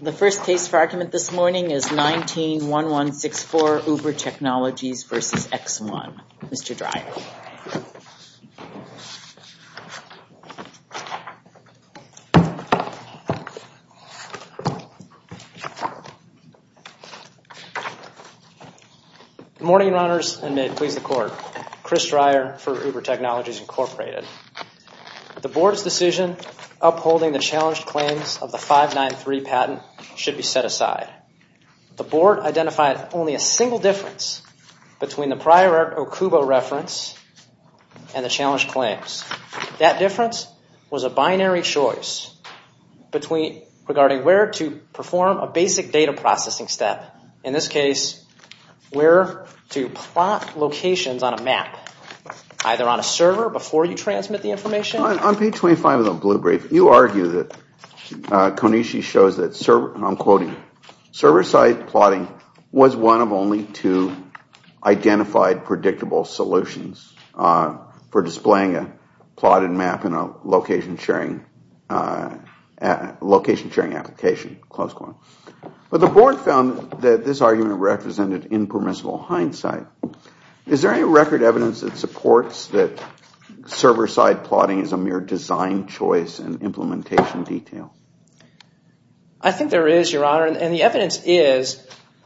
The first case for argument this morning is 19-1164 Uber Technologies v. X One. Mr. Dreyer. Good morning, Your Honors, and may it please the Court. Chris Dreyer for Uber Technologies, Inc. The Board's decision upholding the challenged claims of the 593 patent should be set aside. The Board identified only a single difference between the prior Okubo reference and the challenged claims. That difference was a binary choice regarding where to perform a basic data processing step. In this case, where to plot locations on a map, either on a server before you transmit the information. On page 25 of the blue brief, you argue that Konishi shows that server-side plotting was one of only two identified predictable solutions for displaying a plotted map in a location sharing application. But the Board found that this argument represented impermissible hindsight. Is there any record evidence that supports that server-side plotting is a mere design choice and implementation detail? I think there is, Your Honor, and the evidence is,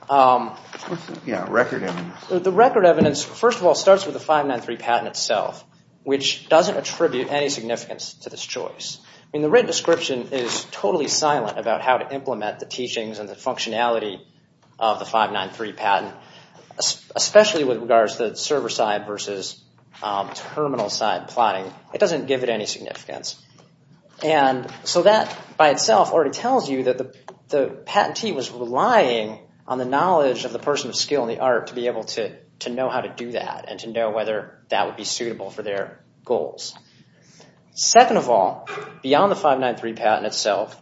the record evidence first of all starts with the 593 patent itself, which doesn't attribute any significance to this choice. The written description is totally silent about how to implement the teachings and the functionality of the 593 patent, especially with regards to server-side versus terminal-side plotting. It doesn't give it any significance. And so that by itself already tells you that the patentee was relying on the knowledge of the person of skill and the art to be able to know how to do that and to know whether that would be suitable for their goals. Second of all, beyond the 593 patent itself,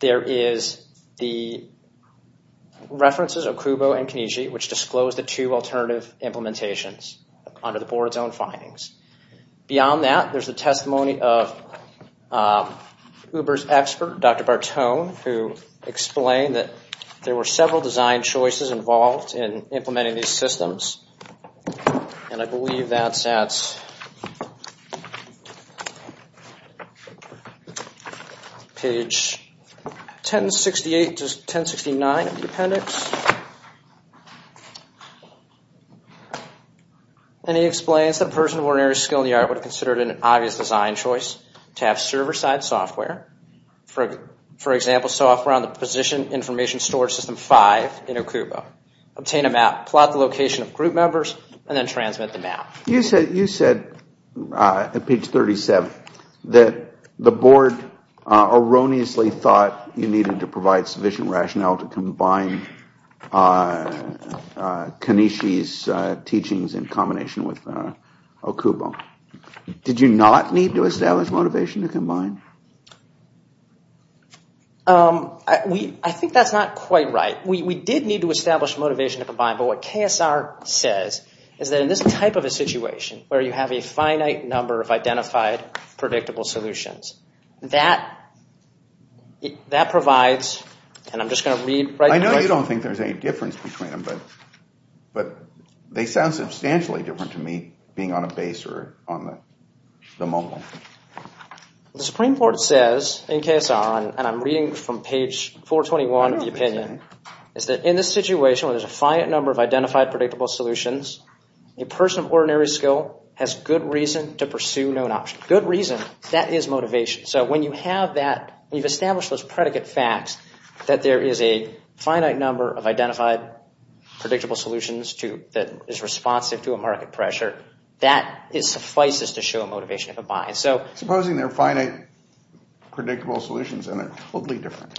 there is the references of Kubo and Konishi, which disclose the two alternative implementations under the Board's own findings. Beyond that, there's the testimony of Uber's expert, Dr. Bartone, who explained that there were several design choices involved in implementing these systems. And I believe that's at page 1068 to 1069 of the appendix. And he explains that a person of ordinary skill and the art would have considered it an obvious design choice to have server-side software, for example, software on the position information storage system 5 in Okubo, obtain a map, plot the location of group members, and then transmit the map. You said at page 37 that the Board erroneously thought you needed to provide sufficient rationale to combine Konishi's teachings in combination with Okubo. Did you not need to establish motivation to combine? I think that's not quite right. We did need to establish motivation to combine, but what KSR says is that in this type of a situation where you have a finite number of identified, predictable solutions, that provides, and I'm just going to read right now. I know you don't think there's any difference between them, but they sound substantially different to me being on a base or on the mobile. The Supreme Court says in KSR, and I'm reading from page 421 of the opinion, is that in this situation where there's a finite number of identified, predictable solutions, a person of ordinary skill has good reason to pursue known options. Good reason, that is motivation. So when you have that, when you've established those predicate facts that there is a finite number of identified, predictable solutions that is responsive to a market pressure, that suffices to show motivation to combine. Supposing they're finite, predictable solutions and they're totally different.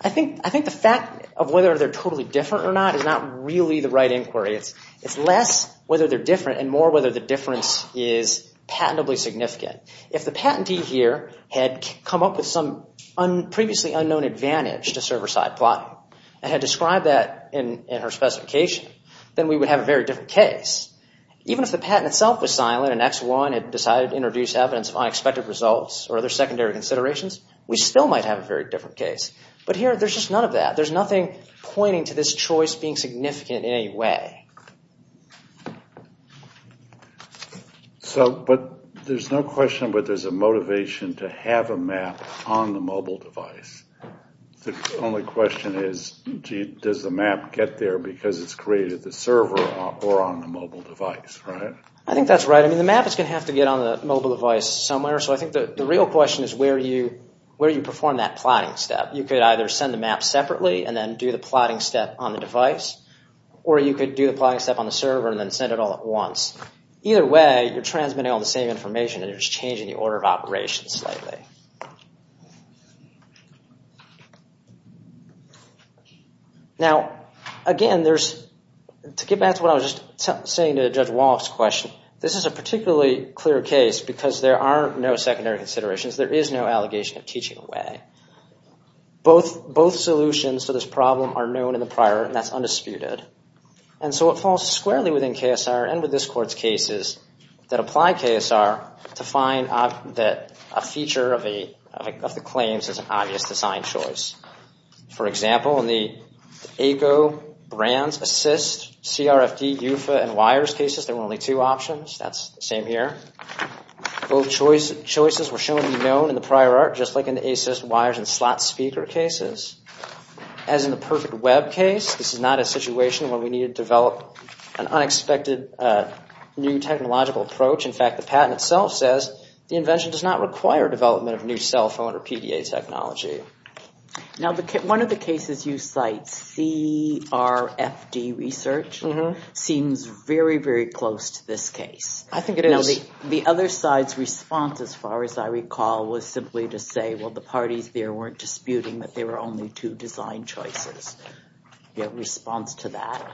I think the fact of whether they're totally different or not is not really the right inquiry. It's less whether they're different and more whether the difference is patentably significant. If the patentee here had come up with some previously unknown advantage to server-side plotting and had described that in her specification, then we would have a very different case. Even if the patent itself was silent and X1 had decided to introduce evidence of unexpected results or other secondary considerations, we still might have a very different case. But here, there's just none of that. There's nothing pointing to this choice being significant in any way. But there's no question that there's a motivation to have a map on the mobile device. The only question is, does the map get there because it's created the server or on the mobile device, right? I think that's right. I mean, the map is going to have to get on the mobile device somewhere. So I think the real question is where you perform that plotting step. You could either send the map separately and then do the plotting step on the device. Or you could do the plotting step on the server and then send it all at once. Either way, you're transmitting all the same information and you're just changing the order of operations slightly. Now, again, to get back to what I was just saying to Judge Walloff's question, this is a particularly clear case because there are no secondary considerations. There is no allegation of teaching away. Both solutions to this problem are known in the prior and that's undisputed. And so it falls squarely within KSR and with this court's cases that apply KSR to find that a feature of the claims is an obvious design choice. For example, in the ECO, Brands, Assist, CRFD, UFA, and WIRES cases, there were only two options. That's the same here. Both choices were shown to be known in the prior art, just like in the Assist, WIRES, and slot speaker cases. As in the Perfect Web case, this is not a situation where we need to develop an unexpected new technological approach. In fact, the patent itself says the invention does not require development of new cell phone or PDA technology. Now, one of the cases you cite, CRFD research, seems very, very close to this case. I think it is. The other side's response, as far as I recall, was simply to say, well, the parties there weren't disputing that there were only two design choices. Your response to that?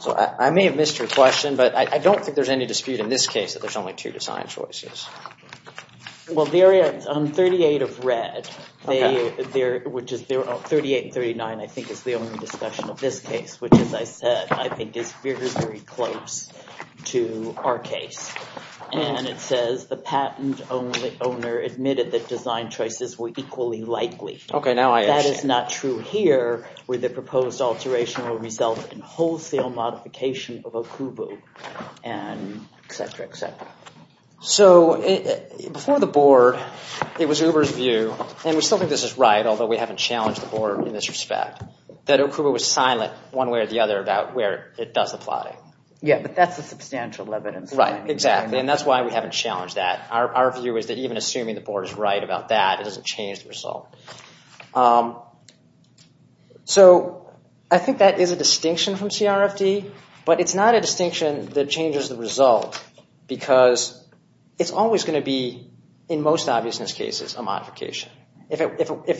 So I may have missed your question, but I don't think there's any dispute in this case that there's only two design choices. Well, there is. On 38 of red, 38 and 39, I think, is the only discussion of this case, which, as I said, I think is very, very close to our case. And it says the patent owner admitted that design choices were equally likely. Okay, now I understand. That is not true here, where the proposed alteration will result in wholesale modification of Okubo and et cetera, et cetera. So before the board, it was Uber's view, and we still think this is right, although we haven't challenged the board in this respect, that Okubo was silent one way or the other about where it does apply. Yeah, but that's the substantial evidence. Right, exactly. And that's why we haven't challenged that. Our view is that even assuming the board is right about that, it doesn't change the result. So I think that is a distinction from CRFD, but it's not a distinction that changes the result, because it's always going to be, in most obviousness cases, a modification. If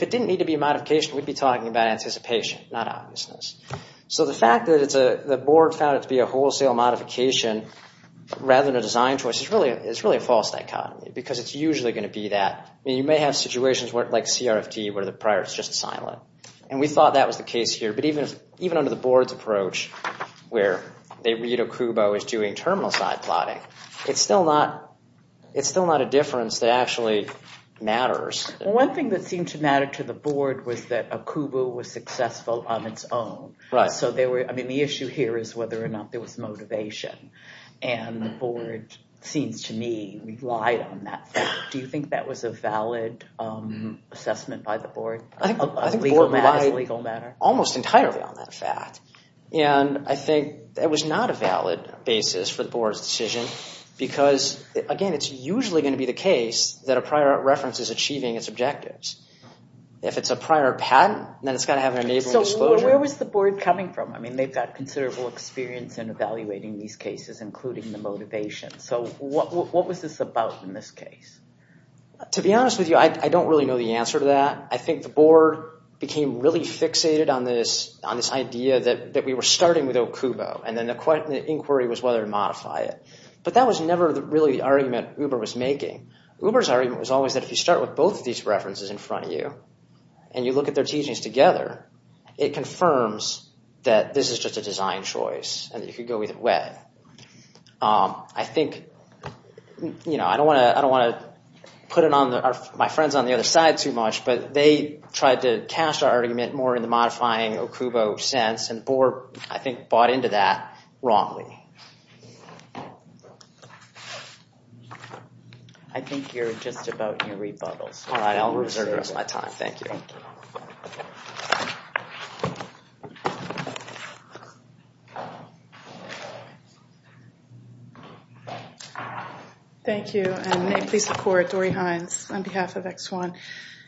it didn't need to be a modification, we'd be talking about anticipation, not obviousness. So the fact that the board found it to be a wholesale modification rather than a design choice is really a false dichotomy, because it's usually going to be that. You may have situations like CRFD where the prior is just silent, and we thought that was the case here. But even under the board's approach where they read Okubo as doing terminal side plotting, it's still not a difference that actually matters. One thing that seemed to matter to the board was that Okubo was successful on its own. So the issue here is whether or not there was motivation, and the board seems to me relied on that. Do you think that was a valid assessment by the board? I think the board relied almost entirely on that fact. And I think that was not a valid basis for the board's decision, because, again, it's usually going to be the case that a prior reference is achieving its objectives. If it's a prior patent, then it's got to have an enabling disclosure. So where was the board coming from? I mean, they've got considerable experience in evaluating these cases, including the motivation. So what was this about in this case? To be honest with you, I don't really know the answer to that. I think the board became really fixated on this idea that we were starting with Okubo, and then the inquiry was whether to modify it. But that was never really the argument Uber was making. Uber's argument was always that if you start with both of these references in front of you, and you look at their teachings together, it confirms that this is just a design choice, and you could go either way. I think, you know, I don't want to put my friends on the other side too much, but they tried to cast our argument more in the modifying Okubo sense, and the board, I think, bought into that wrongly. I think you're just about in rebuttals. All right, I'll reserve the rest of my time. Thank you. Thank you, and may it please the court, Dory Hines on behalf of X1.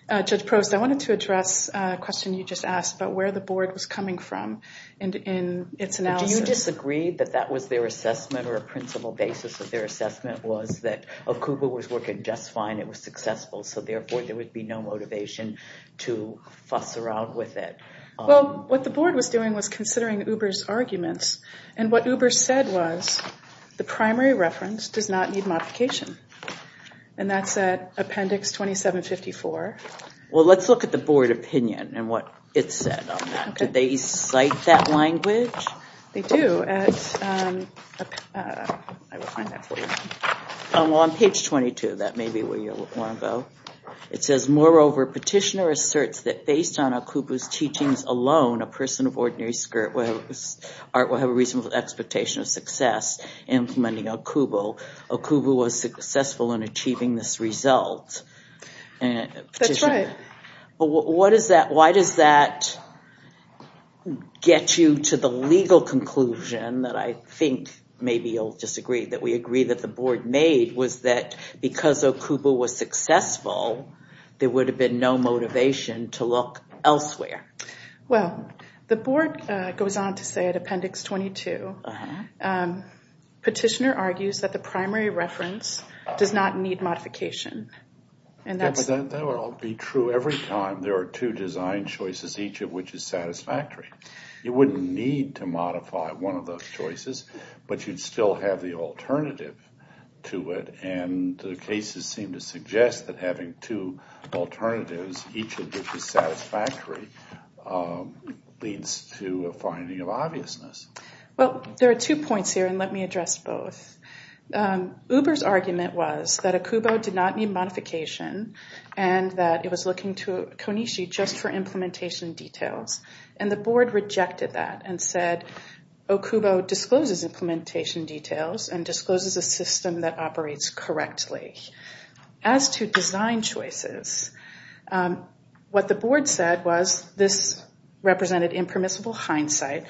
Judge Prost, I wanted to address a question you just asked about where the board was coming from in its analysis. Did you disagree that that was their assessment or a principal basis of their assessment was that Okubo was working just fine, it was successful, so therefore there would be no motivation to fuss around with it? Well, what the board was doing was considering Uber's arguments. And what Uber said was, the primary reference does not need modification. And that's at appendix 2754. Well, let's look at the board opinion and what it said on that. Did they cite that language? They do. Well, on page 22, that may be where you want to go. It says, moreover, petitioner asserts that based on Okubo's teachings alone, a person of ordinary spirit will have a reasonable expectation of success in implementing Okubo. Okubo was successful in achieving this result. That's right. But why does that get you to the legal conclusion that I think maybe you'll disagree, that we agree that the board made, was that because Okubo was successful, there would have been no motivation to look elsewhere. Well, the board goes on to say at appendix 22, petitioner argues that the primary reference does not need modification. That would all be true every time. There are two design choices, each of which is satisfactory. You wouldn't need to modify one of those choices, but you'd still have the alternative to it. And the cases seem to suggest that having two alternatives, each of which is satisfactory, leads to a finding of obviousness. Well, there are two points here, and let me address both. Uber's argument was that Okubo did not need modification and that it was looking to Konishi just for implementation details, and the board rejected that and said Okubo discloses implementation details and discloses a system that operates correctly. As to design choices, what the board said was this represented impermissible hindsight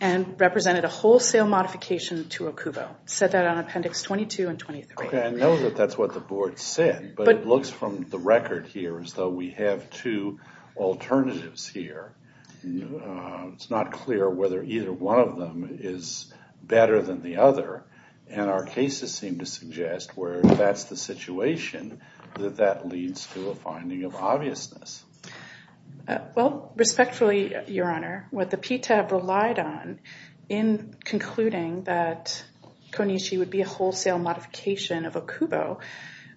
and represented a wholesale modification to Okubo. Said that on appendix 22 and 23. Okay, I know that that's what the board said, but it looks from the record here as though we have two alternatives here. It's not clear whether either one of them is better than the other, and our cases seem to suggest where that's the situation, that that leads to a finding of obviousness. Well, respectfully, Your Honor, what the PTAB relied on in concluding that Konishi would be a wholesale modification of Okubo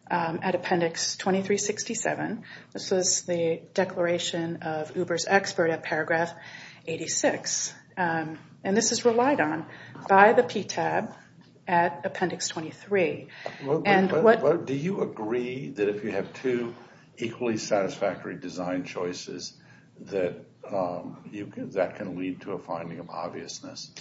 at appendix 2367, this was the declaration of Uber's expert at paragraph 86, and this is relied on by the PTAB at appendix 23. Do you agree that if you have two equally satisfactory design choices that that can lead to a finding of obviousness?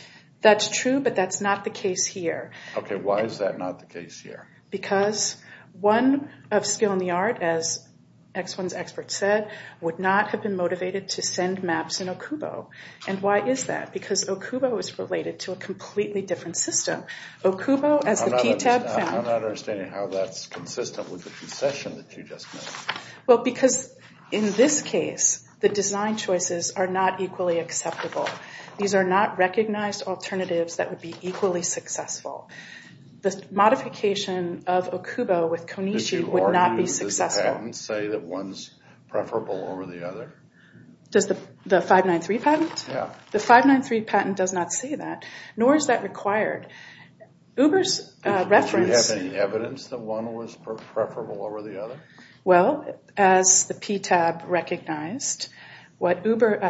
That's true, but that's not the case here. Okay, why is that not the case here? Because one of skill in the art, as X1's expert said, would not have been motivated to send maps in Okubo. And why is that? Because Okubo is related to a completely different system. Okubo, as the PTAB found— I'm not understanding how that's consistent with the concession that you just made. Well, because in this case, the design choices are not equally acceptable. These are not recognized alternatives that would be equally successful. The modification of Okubo with Konishi would not be successful. Does the patent say that one's preferable over the other? Does the 593 patent? Yeah. The 593 patent does not say that, nor is that required. Uber's reference— Do you have any evidence that one was preferable over the other? Well, as the PTAB recognized, what Uber—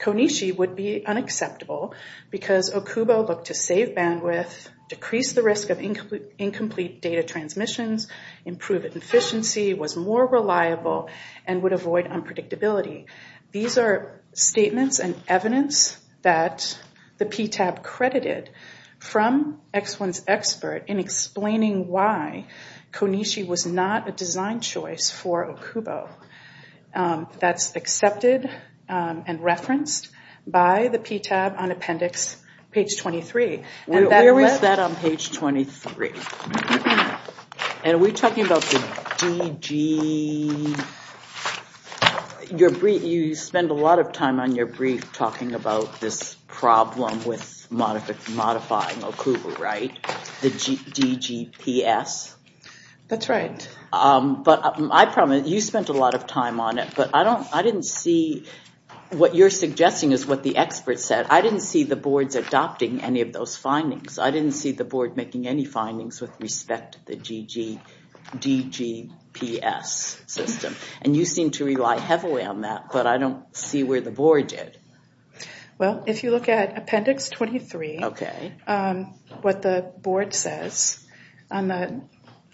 Konishi would be unacceptable because Okubo looked to save bandwidth, decrease the risk of incomplete data transmissions, improve efficiency, was more reliable, and would avoid unpredictability. These are statements and evidence that the PTAB credited from X1's expert in explaining why Konishi was not a design choice for Okubo. That's accepted and referenced by the PTAB on appendix page 23. Where is that on page 23? Are we talking about the DG— You spend a lot of time on your brief talking about this problem with modifying Okubo, right? The DGPS? That's right. You spent a lot of time on it, but I didn't see— What you're suggesting is what the expert said. I didn't see the boards adopting any of those findings. I didn't see the board making any findings with respect to the DGPS system. And you seem to rely heavily on that, but I don't see where the board did. If you look at appendix 23, what the board says on the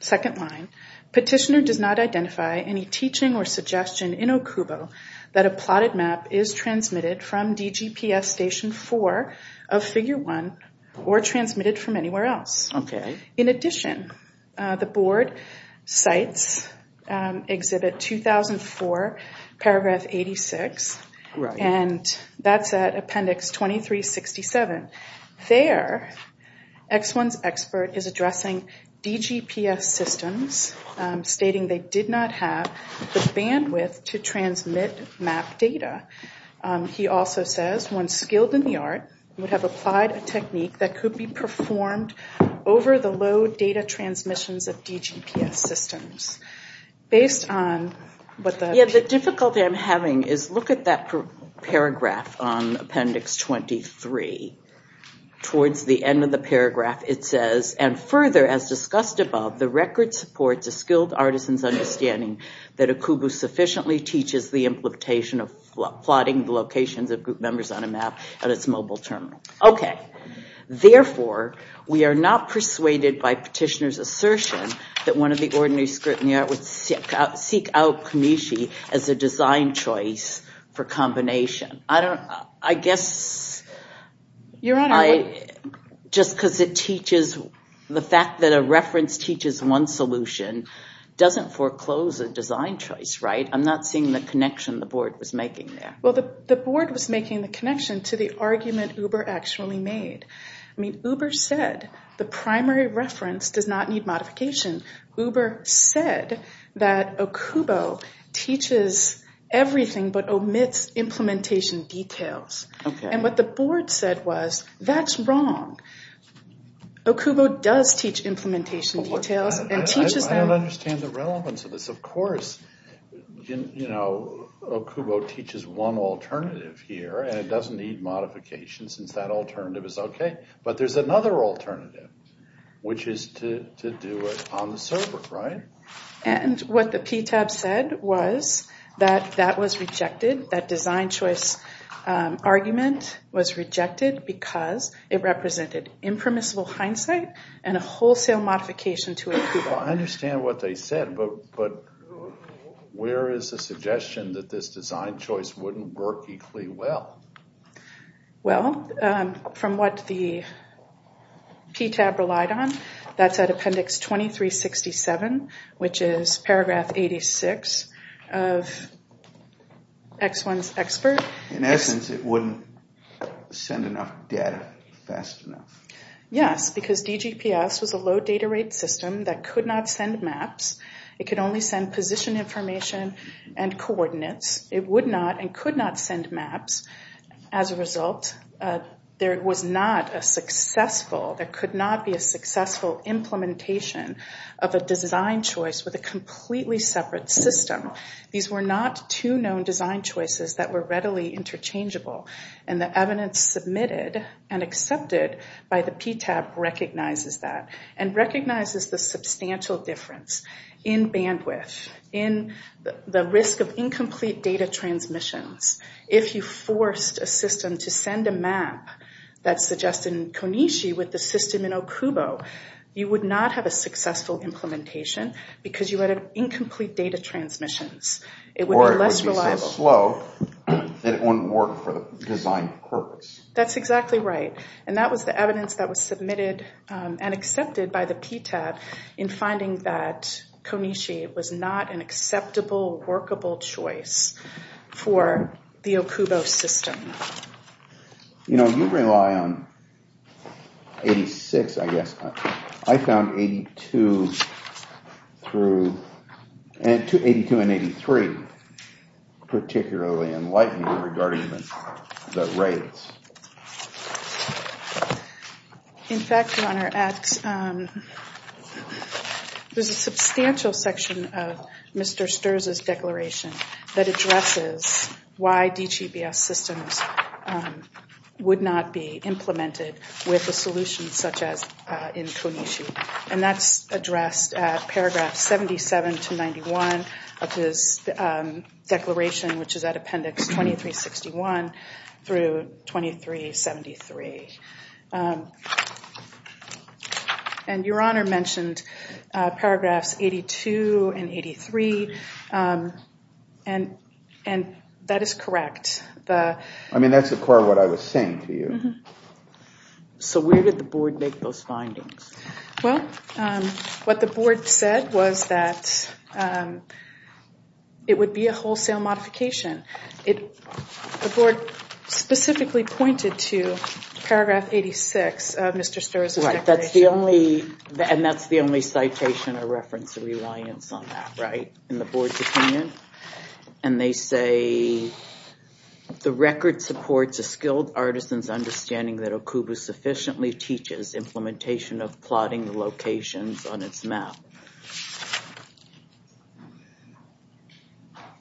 second line, Petitioner does not identify any teaching or suggestion in Okubo that a plotted map is transmitted from DGPS Station 4 of Figure 1 or transmitted from anywhere else. In addition, the board cites Exhibit 2004, paragraph 86, and that's at appendix 2367. There, X1's expert is addressing DGPS systems, stating they did not have the bandwidth to transmit map data. He also says one skilled in the art would have applied a technique that could be performed over the low data transmissions of DGPS systems. Based on what the— What I'm saying is look at that paragraph on appendix 23. Towards the end of the paragraph, it says, and further as discussed above, the record supports a skilled artisan's understanding that Okubo sufficiently teaches the implementation of plotting the locations of group members on a map at its mobile terminal. Okay. Therefore, we are not persuaded by Petitioner's assertion that one of the ordinary skilled in the art would seek out Kameshi as a design choice for combination. I don't—I guess— Your Honor, what— Just because it teaches—the fact that a reference teaches one solution doesn't foreclose a design choice, right? I'm not seeing the connection the board was making there. Well, the board was making the connection to the argument Uber actually made. I mean, Uber said the primary reference does not need modification. Uber said that Okubo teaches everything but omits implementation details. Okay. And what the board said was, that's wrong. Okubo does teach implementation details and teaches them— I don't understand the relevance of this. Of course, you know, Okubo teaches one alternative here and it doesn't need modification since that alternative is okay. But there's another alternative, which is to do it on the server, right? And what the PTAB said was that that was rejected, that design choice argument was rejected because it represented impermissible hindsight and a wholesale modification to Okubo. I understand what they said, but where is the suggestion that this design choice wouldn't work equally well? Well, from what the PTAB relied on, that's at appendix 2367, which is paragraph 86 of X1's expert. In essence, it wouldn't send enough data fast enough. Yes, because DGPS was a low data rate system that could not send maps It could only send position information and coordinates. It would not and could not send maps. As a result, there was not a successful— there could not be a successful implementation of a design choice with a completely separate system. These were not two known design choices that were readily interchangeable. And the evidence submitted and accepted by the PTAB recognizes that and recognizes the substantial difference in bandwidth, in the risk of incomplete data transmissions. If you forced a system to send a map that's suggested in Konishi with the system in Okubo, you would not have a successful implementation because you would have incomplete data transmissions. Or it would be so slow that it wouldn't work for the design purpose. That's exactly right. And that was the evidence that was submitted and accepted by the PTAB in finding that Konishi was not an acceptable, workable choice for the Okubo system. You know, you rely on 86, I guess. I found 82 and 83 particularly enlightening regarding the rates. In fact, Your Honor, there's a substantial section of Mr. Sturz's declaration that addresses why DGBS systems would not be implemented with a solution such as in Konishi. And that's addressed at paragraph 77 to 91 of his declaration, which is at appendix 2361 through 2373. And Your Honor mentioned paragraphs 82 and 83, and that is correct. I mean, that's, of course, what I was saying to you. So where did the board make those findings? Well, what the board said was that it would be a wholesale modification. The board specifically pointed to paragraph 86 of Mr. Sturz's declaration. Right. And that's the only citation or reference of reliance on that, right, in the board's opinion? And they say, the record supports a skilled artisan's understanding that Okubo sufficiently teaches implementation of plotting locations on its map.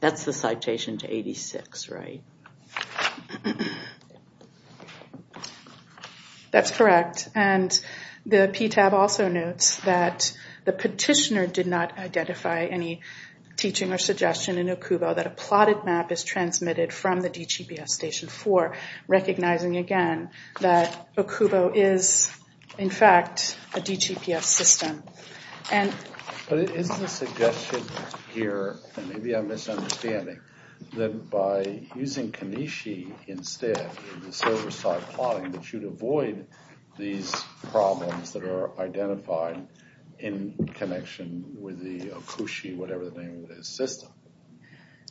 That's the citation to 86, right? That's correct. And the PTAB also notes that the petitioner did not identify any teaching or suggestion in Okubo that a plotted map is transmitted from the DGBS Station 4, recognizing, again, that Okubo is, in fact, a DGBS system. But isn't the suggestion here, and maybe I'm misunderstanding, that by using Kanishi instead in the server-side plotting that you'd avoid these problems that are identified in connection with the Okushi, whatever the name of the system?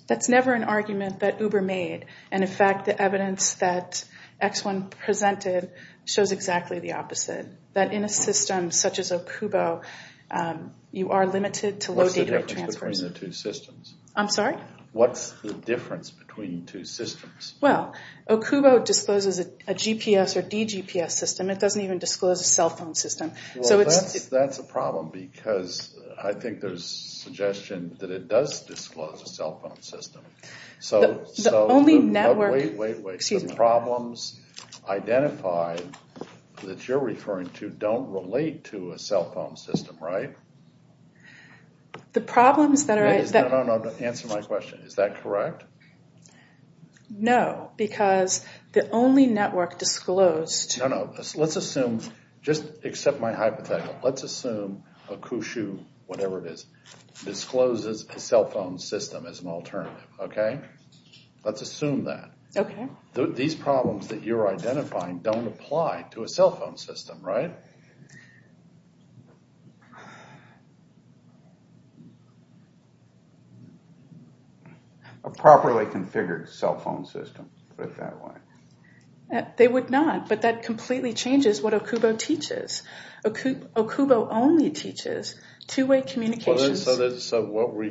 That's never an argument that Uber made. And, in fact, the evidence that X1 presented shows exactly the opposite, that in a system such as Okubo you are limited to low data rate transfers. What's the difference between the two systems? I'm sorry? What's the difference between two systems? Well, Okubo discloses a GPS or DGBS system. It doesn't even disclose a cell phone system. Well, that's a problem because I think there's suggestion that it does disclose a cell phone system. The only network— Wait, wait, wait. The problems identified that you're referring to don't relate to a cell phone system, right? The problems that are— No, no, no, answer my question. Is that correct? No, because the only network disclosed— No, no. Let's assume, just accept my hypothetical, let's assume Okushu, whatever it is, discloses a cell phone system as an alternative, okay? Let's assume that. Okay. These problems that you're identifying don't apply to a cell phone system, right? A properly configured cell phone system, put it that way. They would not, but that completely changes what Okubo teaches. Okubo only teaches two-way communications. So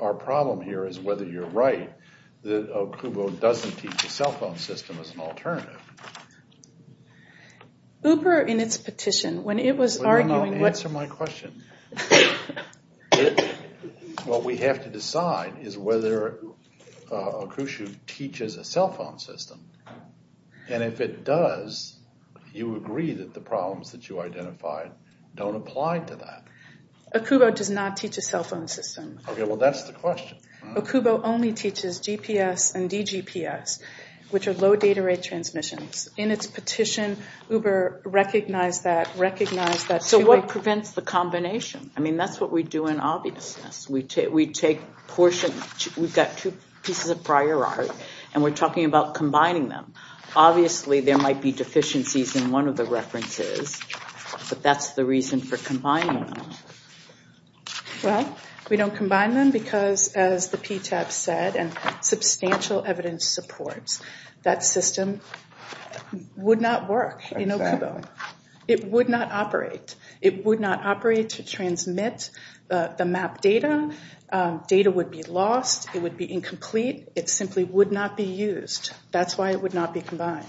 our problem here is whether you're right that Okubo doesn't teach a cell phone system as an alternative. Uber, in its petition, when it was arguing— Wait, no, no, answer my question. What we have to decide is whether Okushu teaches a cell phone system, and if it does, you agree that the problems that you identified don't apply to that. Okubo does not teach a cell phone system. Okay, well, that's the question. Okubo only teaches GPS and DGPS, which are low data rate transmissions. In its petition, Uber recognized that, recognized that— So what prevents the combination? I mean, that's what we do in obviousness. We take portions—we've got two pieces of prior art, and we're talking about combining them. Obviously, there might be deficiencies in one of the references, but that's the reason for combining them. Well, we don't combine them because, as the PTAB said, and substantial evidence supports, that system would not work in Okubo. It would not operate. It would not operate to transmit the map data. Data would be lost. It would be incomplete. It simply would not be used. That's why it would not be combined.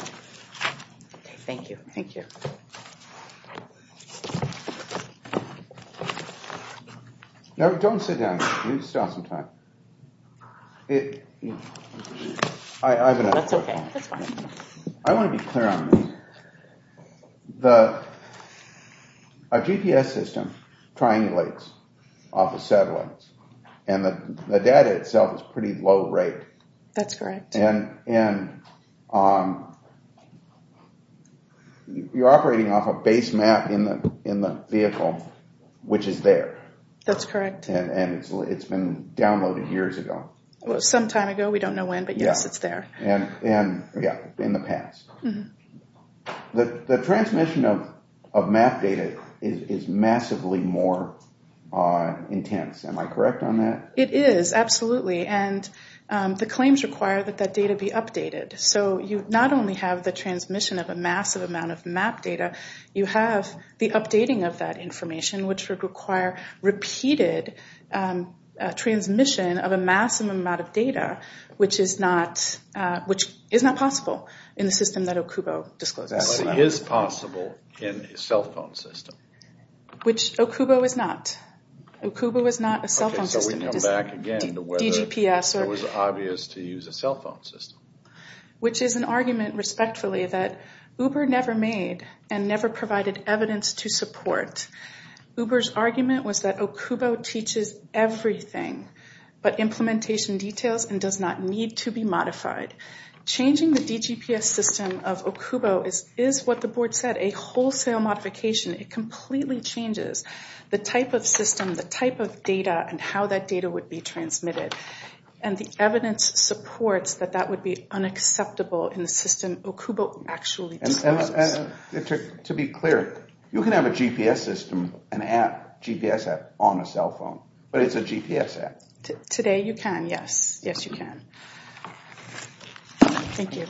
Okay, thank you. Thank you. No, don't sit down. You still have some time. I have another question. That's okay. That's fine. I want to be clear on this. A GPS system triangulates off a satellite, and the data itself is pretty low rate. That's correct. And you're operating off a base map in the vehicle, which is there. That's correct. And it's been downloaded years ago. Well, some time ago. We don't know when, but yes, it's there. In the past. The transmission of map data is massively more intense. Am I correct on that? It is, absolutely. And the claims require that that data be updated. So you not only have the transmission of a massive amount of map data, you have the updating of that information, which would require repeated transmission of a massive amount of data, which is not possible in the system that Okubo discloses. But it is possible in a cell phone system. Which Okubo is not. Okubo is not a cell phone system. Okay, so we can come back again to whether it was obvious to use a cell phone system. Which is an argument, respectfully, that Uber never made and never provided evidence to support. Uber's argument was that Okubo teaches everything, but implementation details and does not need to be modified. Changing the DGPS system of Okubo is what the board said, a wholesale modification. It completely changes the type of system, the type of data, and how that data would be transmitted. And the evidence supports that that would be unacceptable in the system Okubo actually discloses. To be clear, you can have a GPS system, an app, GPS app on a cell phone, but it's a GPS app. Today you can, yes. Yes you can. Thank you.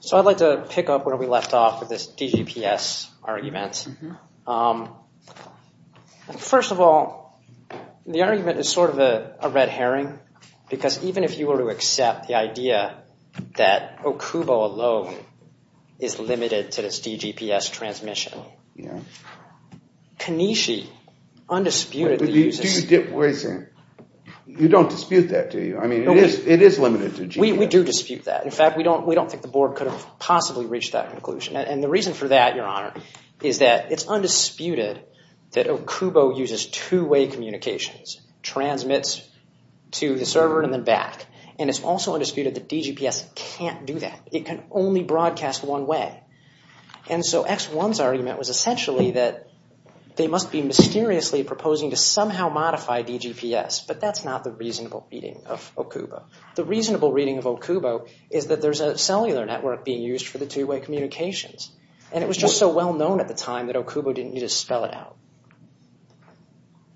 So I'd like to pick up where we left off with this DGPS argument. First of all, the argument is sort of a red herring, because even if you were to accept the idea that Okubo alone is limited to this DGPS transmission, Kineshi, undisputedly uses... Wait a second. You don't dispute that, do you? I mean, it is limited to GPS. We do dispute that. In fact, we don't think the board could have possibly reached that conclusion. And the reason for that, Your Honor, is that it's undisputed that Okubo uses two-way communications, transmits to the server and then back. And it's also undisputed that DGPS can't do that. It can only broadcast one way. And so X1's argument was essentially that they must be mysteriously proposing to somehow modify DGPS, but that's not the reasonable reading of Okubo. The reasonable reading of Okubo is that there's a cellular network being used for the two-way communications. And it was just so well-known at the time that Okubo didn't need to spell it out.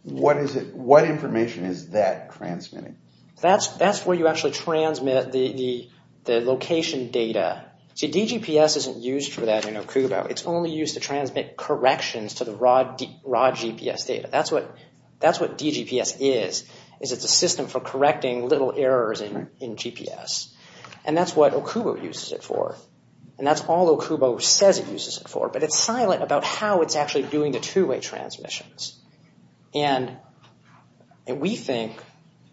What information is that transmitting? That's where you actually transmit the location data. See, DGPS isn't used for that in Okubo. It's only used to transmit corrections to the raw GPS data. That's what DGPS is, is it's a system for correcting little errors in GPS. And that's what Okubo uses it for. And that's all Okubo says it uses it for. But it's silent about how it's actually doing the two-way transmissions. And we think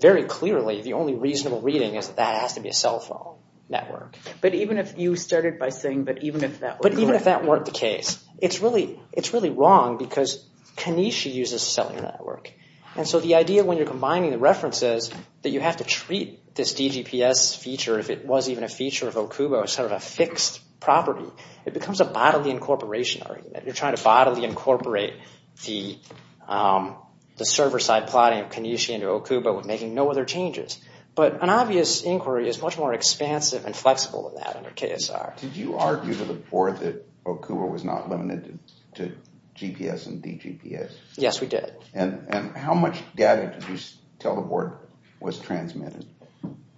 very clearly the only reasonable reading is that that has to be a cell phone network. But even if you started by saying that even if that were correct... But even if that weren't the case. It's really wrong because Kinesh uses a cellular network. And so the idea when you're combining the references that you have to treat this DGPS feature, if it was even a feature of Okubo, as sort of a fixed property. It becomes a bodily incorporation argument. You're trying to bodily incorporate the server-side plotting of Kinesh into Okubo with making no other changes. But an obvious inquiry is much more expansive and flexible than that under KSR. Did you argue to the board that Okubo was not limited to GPS and DGPS? Yes, we did. And how much data did you tell the board was transmitted?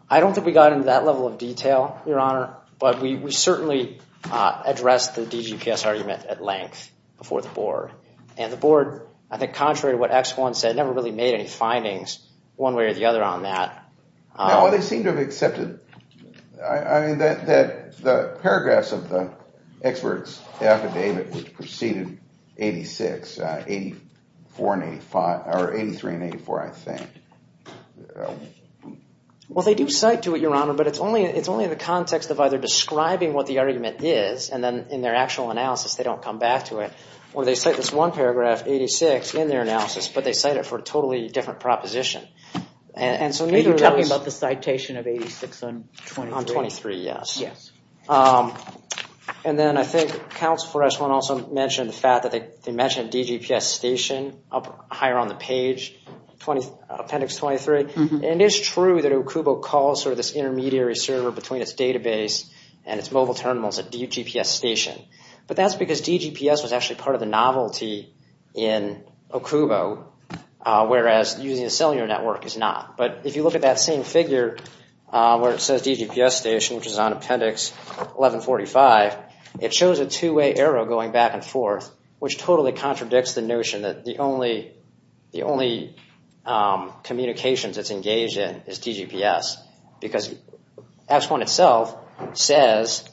I don't think we got into that level of detail, Your Honor. But we certainly addressed the DGPS argument at length before the board. And the board, I think contrary to what X1 said, never really made any findings one way or the other on that. Well, they seem to have accepted. I mean, the paragraphs of the expert's affidavit preceded 86, 83 and 84, I think. Well, they do cite to it, Your Honor, but it's only in the context of either describing what the argument is and then in their actual analysis they don't come back to it. Or they cite this one paragraph, 86, in their analysis, but they cite it for a totally different proposition. Are you talking about the citation of 86 on 23? On 23, yes. Yes. And then I think counsel for X1 also mentioned the fact that they mentioned DGPS station up higher on the page, appendix 23. And it's true that Okubo calls sort of this intermediary server between its database and its mobile terminals a DGPS station. But that's because DGPS was actually part of the novelty in Okubo, whereas using a cellular network is not. But if you look at that same figure where it says DGPS station, which is on appendix 1145, it shows a two-way arrow going back and forth, which totally contradicts the notion that the only communications it's engaged in is DGPS. Because X1 itself says...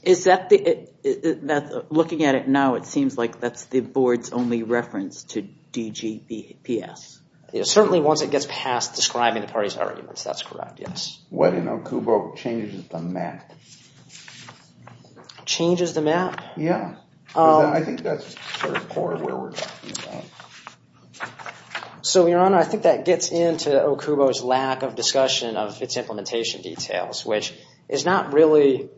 Looking at it now, it seems like that's the board's only reference to DGPS. Certainly once it gets past describing the parties' arguments, that's correct, yes. What in Okubo changes the map? Changes the map? Yeah. I think that's sort of where we're going. So, Your Honor, I think that gets into Okubo's lack of discussion of its implementation details, which is not really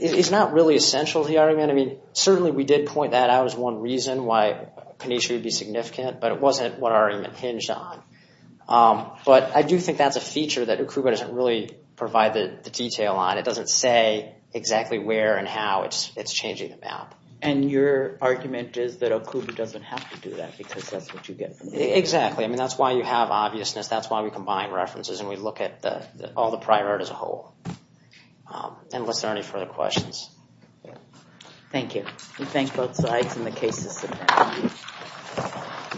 essential to the argument. I mean, certainly we did point that out as one reason why panacea would be significant, but it wasn't what our argument hinged on. But I do think that's a feature that Okubo doesn't really provide the detail on. It doesn't say exactly where and how it's changing the map. And your argument is that Okubo doesn't have to do that because that's what you get from it. Exactly. I mean, that's why you have obviousness. That's why we combine references and we look at all the prior art as a whole. Unless there are any further questions. Thank you. We thank both sides and the case is submitted.